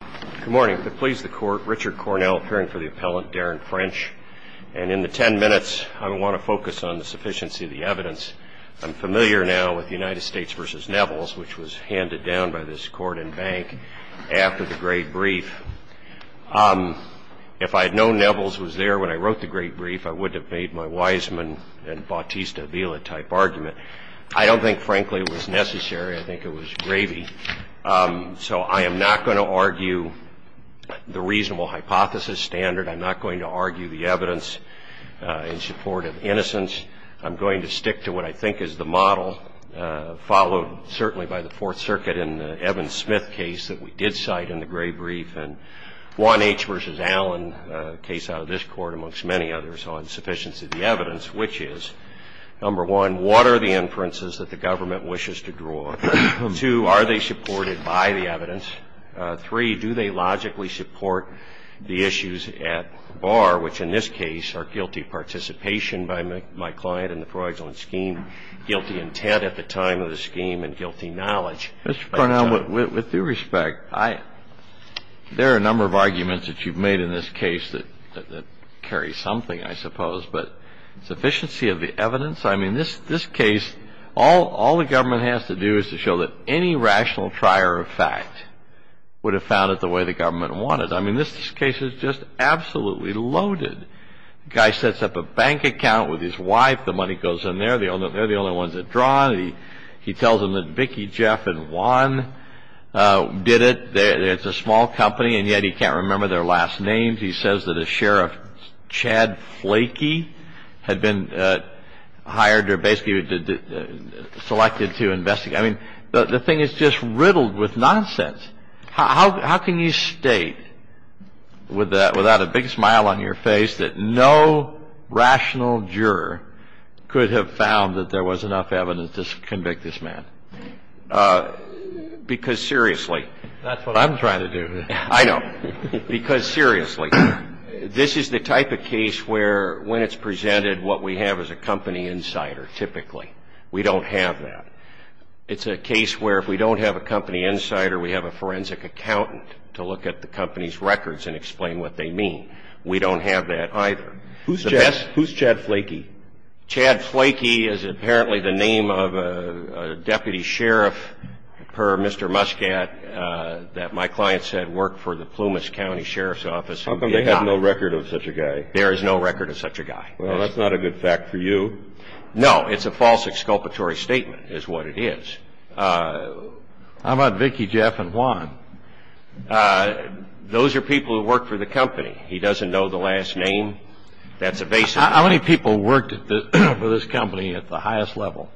Good morning. It pleases the court, Richard Cornell, appearing for the appellant, Darin French, and in the ten minutes, I want to focus on the sufficiency of the evidence. I'm familiar now with United States v. Neville's, which was handed down by this court and bank after the great brief. If I had known Neville's was there when I wrote the great brief, I wouldn't have made my Wiseman and Bautista-Vila type argument. I don't think, frankly, it was necessary. I think it was gravy. So I am not going to argue the reasonable hypothesis standard. I'm not going to argue the evidence in support of innocence. I'm going to stick to what I think is the model, followed certainly by the Fourth Circuit in the Evan Smith case that we did cite in the great brief, and Juan H. v. Allen case out of this court, amongst many others, on sufficiency of the evidence, which is, number one, what are the inferences that the government wishes to draw? Two, are they supported by the evidence? Three, do they logically support the issues at bar, which in this case are guilty participation by my client in the fraudulent scheme, guilty intent at the time of the scheme, and guilty knowledge. Mr. Cornell, with due respect, there are a number of arguments that you've made in this case that carry something, I suppose. But sufficiency of the evidence? I mean, this case, all the government has to do is to show that any rational trier of fact would have found it the way the government wanted. I mean, this case is just absolutely loaded. The guy sets up a bank account with his wife. The money goes in there. They're the only ones that draw. He tells them that Vicki, Jeff, and Juan did it. It's a small company, and yet he can't remember their last names. I mean, if he says that a sheriff, Chad Flakey, had been hired or basically selected to investigate, I mean, the thing is just riddled with nonsense. How can you state without a big smile on your face that no rational juror could have found that there was enough evidence to convict this man? Because seriously, that's what I'm trying to do. I know. Because seriously, this is the type of case where when it's presented, what we have is a company insider typically. We don't have that. It's a case where if we don't have a company insider, we have a forensic accountant to look at the company's records and explain what they mean. We don't have that either. Who's Chad Flakey? Chad Flakey is apparently the name of a deputy sheriff per Mr. Muscat that my client said worked for the Plumas County Sheriff's Office. How come they have no record of such a guy? There is no record of such a guy. Well, that's not a good fact for you. No, it's a false exculpatory statement is what it is. How about Vicki, Jeff, and Juan? Those are people who work for the company. He doesn't know the last name. How many people worked for this company at the highest level?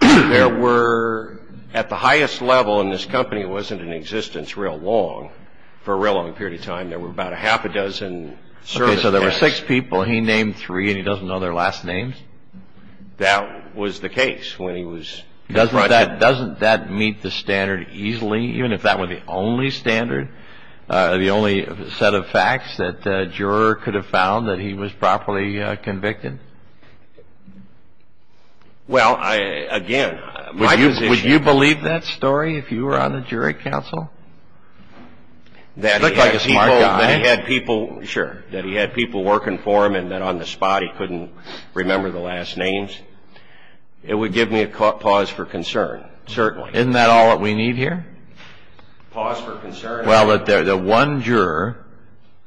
At the highest level in this company, it wasn't in existence real long. For a real long period of time, there were about a half a dozen. Okay, so there were six people. He named three, and he doesn't know their last names? That was the case. Doesn't that meet the standard easily, even if that were the only standard, the only set of facts that a juror could have found that he was properly convicted? Well, again, would you believe that story if you were on the jury council? That he had people working for him and that on the spot he couldn't remember the last names? It would give me a pause for concern, certainly. Isn't that all that we need here? Pause for concern? Well, the one juror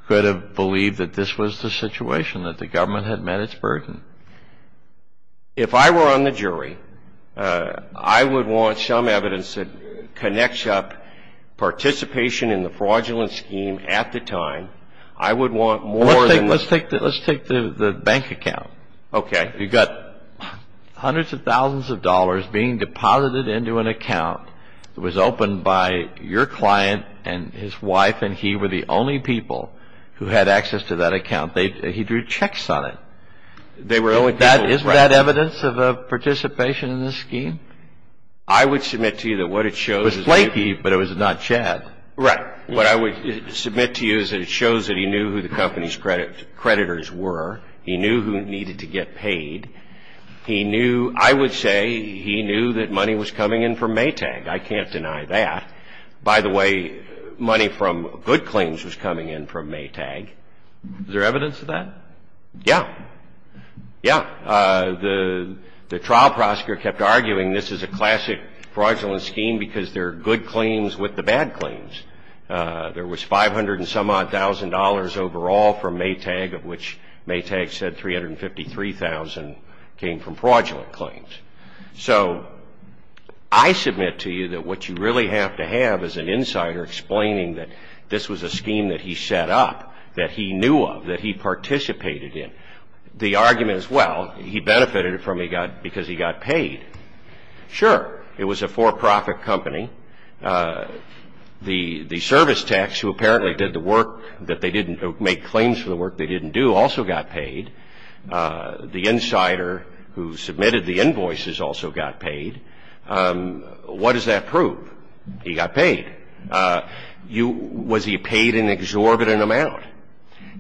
could have believed that this was the situation, that the government had met its burden. If I were on the jury, I would want some evidence that connects up participation in the fraudulent scheme at the time. I would want more than this. Let's take the bank account. Okay. You've got hundreds of thousands of dollars being deposited into an account. It was opened by your client and his wife, and he were the only people who had access to that account. He drew checks on it. Isn't that evidence of participation in the scheme? I would submit to you that what it shows is... It was Lanky, but it was not Chad. Right. What I would submit to you is that it shows that he knew who the company's creditors were. He knew who needed to get paid. He knew, I would say, he knew that money was coming in from Maytag. I can't deny that. By the way, money from good claims was coming in from Maytag. Is there evidence of that? Yeah. Yeah. The trial prosecutor kept arguing this is a classic fraudulent scheme because there are good claims with the bad claims. There was $500-and-some-odd-thousand overall from Maytag, of which Maytag said $353,000 came from fraudulent claims. So I submit to you that what you really have to have is an insider explaining that this was a scheme that he set up, that he knew of, that he participated in. The argument is, well, he benefited from it because he got paid. Sure. It was a for-profit company. The service techs who apparently did the work that they didn't make claims for the work they didn't do also got paid. The insider who submitted the invoices also got paid. What does that prove? He got paid. Was he paid an exorbitant amount?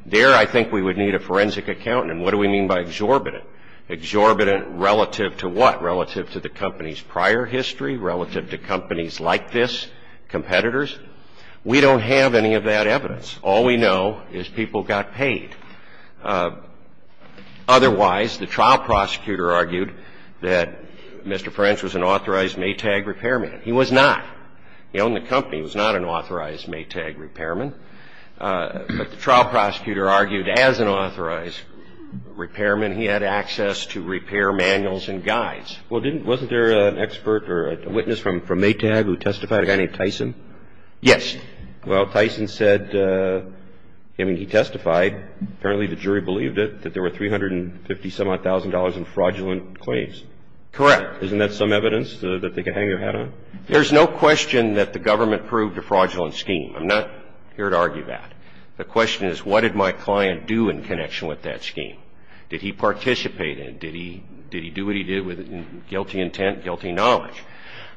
There I think we would need a forensic accountant. What do we mean by exorbitant? Exorbitant relative to what? Relative to the company's prior history? Relative to companies like this, competitors? We don't have any of that evidence. All we know is people got paid. Otherwise, the trial prosecutor argued that Mr. French was an authorized Maytag repairman. He was not. He owned the company. He was not an authorized Maytag repairman. But the trial prosecutor argued as an authorized repairman, he had access to repair manuals and guides. Well, wasn't there an expert or a witness from Maytag who testified, a guy named Tyson? Yes. Well, Tyson said, I mean, he testified, apparently the jury believed it, that there were $350,000-some-odd in fraudulent claims. Correct. Isn't that some evidence that they could hang their hat on? There's no question that the government proved a fraudulent scheme. I'm not here to argue that. The question is, what did my client do in connection with that scheme? Did he participate in it? Did he do what he did with guilty intent, guilty knowledge?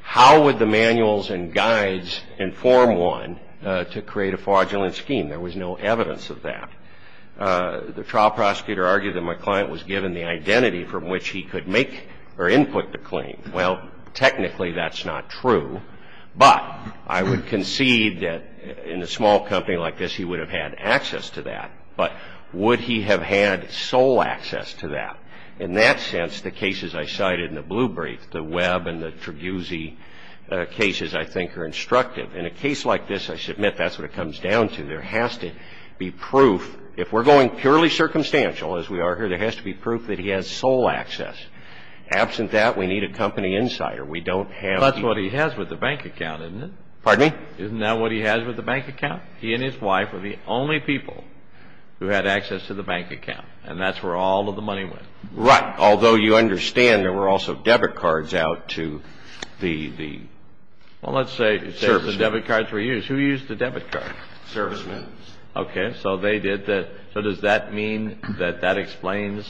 How would the manuals and guides inform one to create a fraudulent scheme? There was no evidence of that. The trial prosecutor argued that my client was given the identity from which he could make or input the claim. Well, technically, that's not true. But I would concede that in a small company like this, he would have had access to that. But would he have had sole access to that? In that sense, the cases I cited in the blue brief, the Webb and the Treguzi cases, I think are instructive. In a case like this, I submit that's what it comes down to. There has to be proof. If we're going purely circumstantial, as we are here, there has to be proof that he has sole access. Absent that, we need a company insider. We don't have the ---- Well, that's what he has with the bank account, isn't it? Pardon me? Isn't that what he has with the bank account? He and his wife are the only people who had access to the bank account. And that's where all of the money went. Right. Although you understand there were also debit cards out to the servicemen. Well, let's say the debit cards were used. Who used the debit card? Servicemen. Okay. So they did the ---- So does that mean that that explains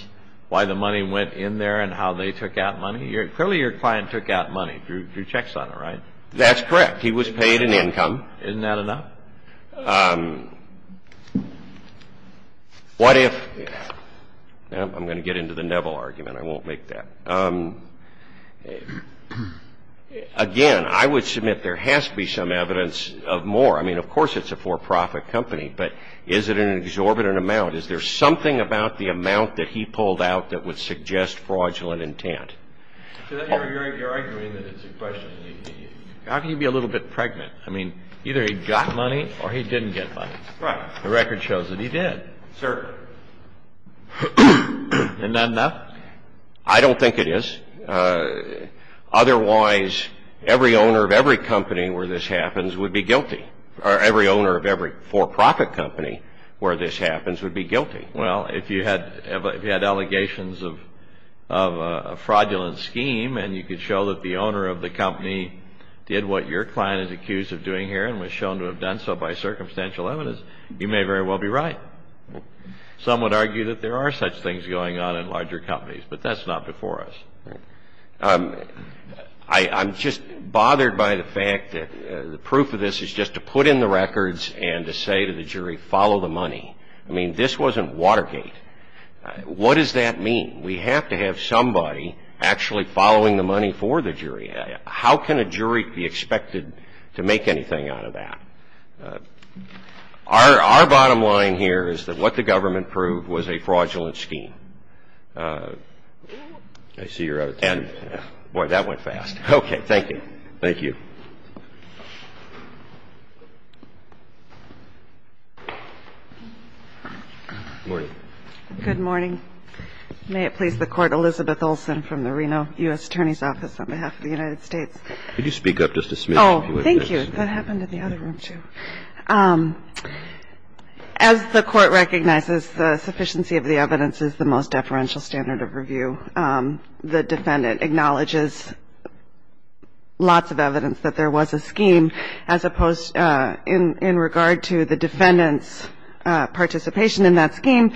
why the money went in there and how they took out money? Clearly your client took out money, drew checks on it, right? That's correct. He was paid an income. Isn't that enough? What if ---- I'm going to get into the Neville argument. I won't make that. Again, I would submit there has to be some evidence of more. I mean, of course it's a for-profit company, but is it an exorbitant amount? Is there something about the amount that he pulled out that would suggest fraudulent intent? You're arguing that it's a question. How can you be a little bit pregnant? I mean, either he got money or he didn't get money. Right. The record shows that he did. Certainly. Isn't that enough? I don't think it is. Otherwise, every owner of every company where this happens would be guilty, or every owner of every for-profit company where this happens would be guilty. Well, if you had allegations of a fraudulent scheme and you could show that the owner of the company did what your client is accused of doing here and was shown to have done so by circumstantial evidence, you may very well be right. Some would argue that there are such things going on in larger companies, but that's not before us. I'm just bothered by the fact that the proof of this is just to put in the records and to say to the jury, follow the money. I mean, this wasn't Watergate. What does that mean? We have to have somebody actually following the money for the jury. How can a jury be expected to make anything out of that? Our bottom line here is that what the government proved was a fraudulent scheme. I see you're out of time. Boy, that went fast. Okay, thank you. Thank you. Good morning. Good morning. May it please the Court, Elizabeth Olsen from the Reno U.S. Attorney's Office on behalf of the United States. Could you speak up just a smidgen? Oh, thank you. That happened in the other room, too. As the Court recognizes, the sufficiency of the evidence is the most deferential standard of review. The defendant acknowledges lots of evidence that there was a scheme, as opposed in regard to the defendant's participation in that scheme,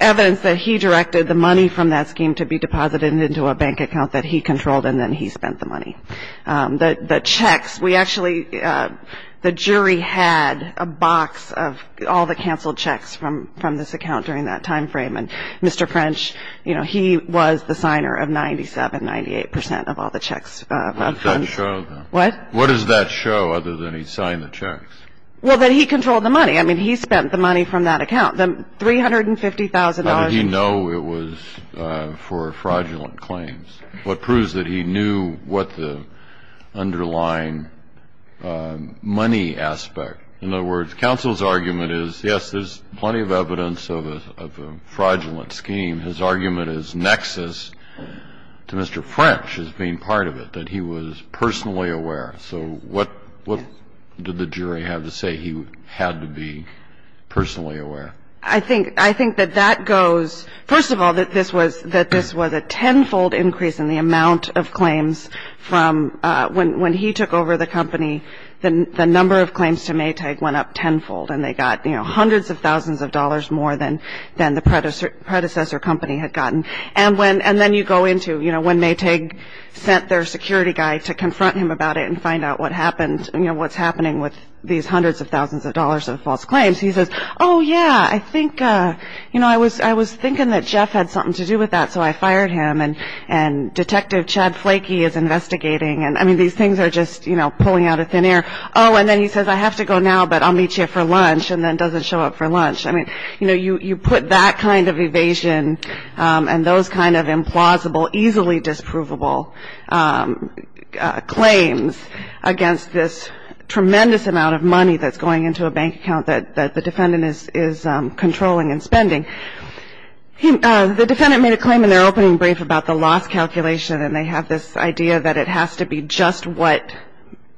evidence that he directed the money from that scheme to be deposited into a bank account that he controlled and then he spent the money. The checks, we actually, the jury had a box of all the canceled checks from this account during that time frame, and Mr. French, you know, he was the signer of 97, 98 percent of all the checks. What does that show, then? What? What does that show other than he signed the checks? Well, that he controlled the money. I mean, he spent the money from that account, the $350,000. How did he know it was for fraudulent claims? What proves that he knew what the underlying money aspect? In other words, counsel's argument is, yes, there's plenty of evidence of a fraudulent scheme. His argument is nexus to Mr. French as being part of it, that he was personally aware. So what did the jury have to say? He had to be personally aware. I think that that goes, first of all, that this was a tenfold increase in the amount of claims from when he took over the company. The number of claims to Maytag went up tenfold, and they got, you know, hundreds of thousands of dollars more than the predecessor company had gotten. And then you go into, you know, when Maytag sent their security guy to confront him about it and find out what happened, you know, what's happening with these hundreds of thousands of dollars of false claims. He says, oh, yeah, I think, you know, I was thinking that Jeff had something to do with that, so I fired him. And Detective Chad Flakey is investigating. And, I mean, these things are just, you know, pulling out of thin air. Oh, and then he says, I have to go now, but I'll meet you for lunch, and then doesn't show up for lunch. I mean, you know, you put that kind of evasion and those kind of implausible, easily disprovable claims against this tremendous amount of money that's going into a bank account that the defendant is controlling and spending. The defendant made a claim in their opening brief about the loss calculation, and they have this idea that it has to be just what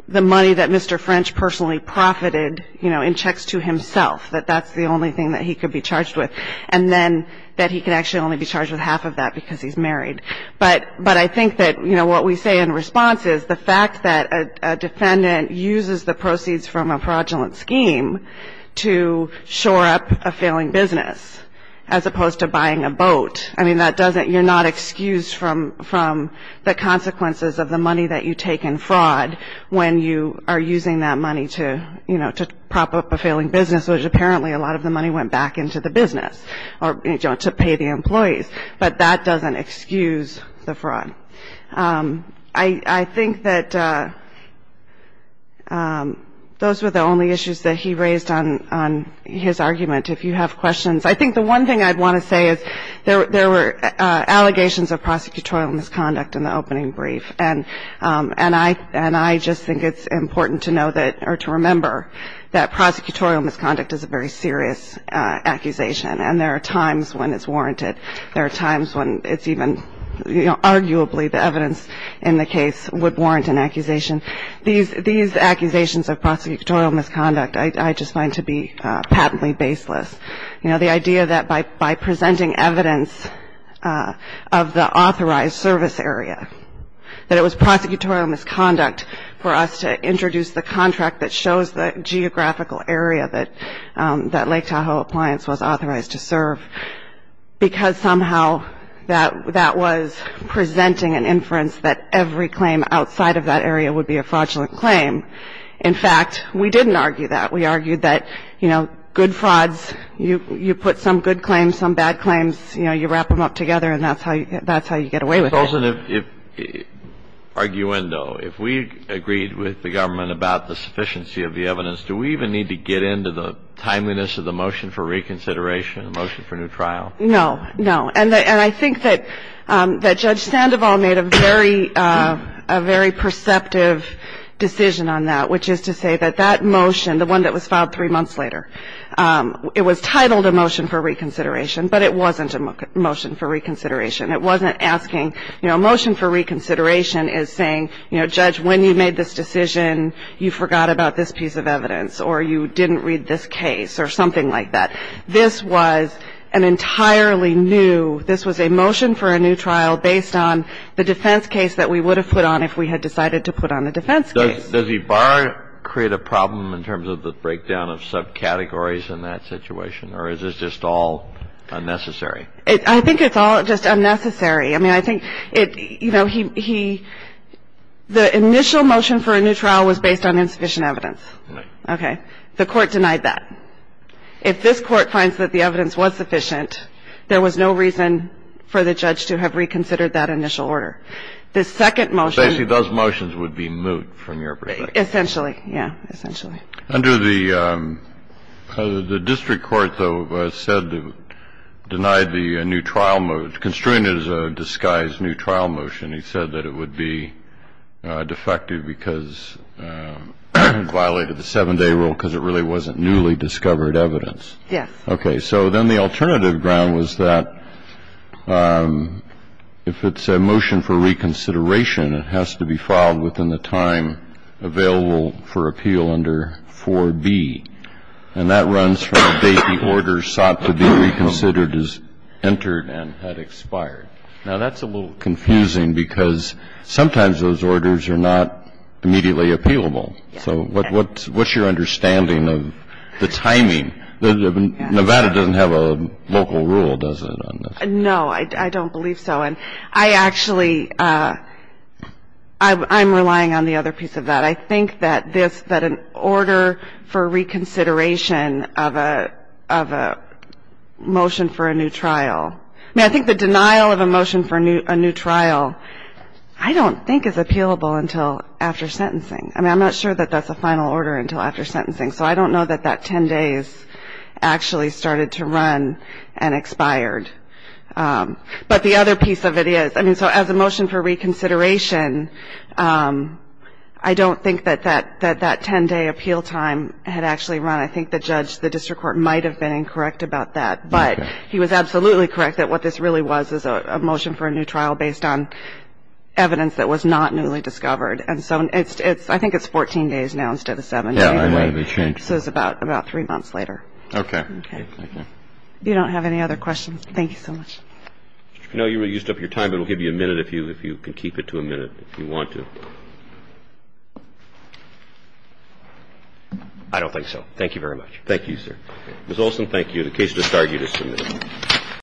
the money that Mr. French personally profited, you know, in checks to himself, that that's the only thing that he could be charged with, and then that he can actually only be charged with half of that because he's married. But I think that, you know, what we say in response is the fact that a defendant uses the proceeds from a fraudulent scheme to shore up a failing business as opposed to buying a boat. I mean, that doesn't you're not excused from the consequences of the money that you take in fraud when you are using that money to, you know, to prop up a failing business, which apparently a lot of the money went back into the business or, you know, to pay the employees. But that doesn't excuse the fraud. I think that those were the only issues that he raised on his argument. If you have questions. I think the one thing I'd want to say is there were allegations of prosecutorial misconduct in the opening brief, and I just think it's important to know that or to remember that prosecutorial misconduct is a very serious accusation, and there are times when it's warranted. There are times when it's even, you know, arguably the evidence in the case would warrant an accusation. These accusations of prosecutorial misconduct I just find to be patently baseless. You know, the idea that by presenting evidence of the authorized service area, that it was prosecutorial misconduct for us to introduce the contract that shows the geographical area that Lake Tahoe Appliance was authorized to serve, because somehow that was presenting an inference that every claim outside of that area would be a fraudulent claim. In fact, we didn't argue that. We argued that, you know, good frauds, you put some good claims, some bad claims, you know, you wrap them up together, and that's how you get away with it. If we agreed with the government about the sufficiency of the evidence, do we even need to get into the timeliness of the motion for reconsideration, the motion for new trial? No, no. And I think that Judge Sandoval made a very perceptive decision on that, which is to say that that motion, the one that was filed three months later, it was titled a motion for reconsideration, but it wasn't a motion for reconsideration. It wasn't asking, you know, a motion for reconsideration is saying, you know, Judge, when you made this decision, you forgot about this piece of evidence or you didn't read this case or something like that. This was an entirely new, this was a motion for a new trial based on the defense case that we would have put on if we had decided to put on the defense case. Does Ibar create a problem in terms of the breakdown of subcategories in that situation, or is this just all unnecessary? I think it's all just unnecessary. I mean, I think it, you know, he, the initial motion for a new trial was based on insufficient evidence. Right. Okay. The Court denied that. If this Court finds that the evidence was sufficient, there was no reason for the judge to have reconsidered that initial order. The second motion. Basically, those motions would be moot from your perspective. Essentially, yeah, essentially. Under the district court, though, said to deny the new trial motion, constrain it as a disguised new trial motion. He said that it would be defective because it violated the 7-day rule because it really wasn't newly discovered evidence. Yes. Okay. So then the alternative ground was that if it's a motion for reconsideration, it has to be filed within the time available for appeal under 4B. And that runs from the date the order sought to be reconsidered has entered and had expired. Now, that's a little confusing because sometimes those orders are not immediately appealable. So what's your understanding of the timing? Nevada doesn't have a local rule, does it? No, I don't believe so. And I actually, I'm relying on the other piece of that. I think that this, that an order for reconsideration of a motion for a new trial, I mean, I think the denial of a motion for a new trial I don't think is appealable until after sentencing. I mean, I'm not sure that that's a final order until after sentencing. So I don't know that that 10 days actually started to run and expired. But the other piece of it is, I mean, so as a motion for reconsideration, I don't think that that 10-day appeal time had actually run. I think the judge, the district court, might have been incorrect about that. But he was absolutely correct that what this really was is a motion for a new trial based on evidence that was not newly discovered. And so it's, I think it's 14 days now instead of 17. So it's about three months later. Okay. Okay. If you don't have any other questions, thank you so much. No, you used up your time. It will give you a minute if you can keep it to a minute if you want to. I don't think so. Thank you very much. Thank you, sir. Ms. Olson, thank you. The case is disargued as submitted.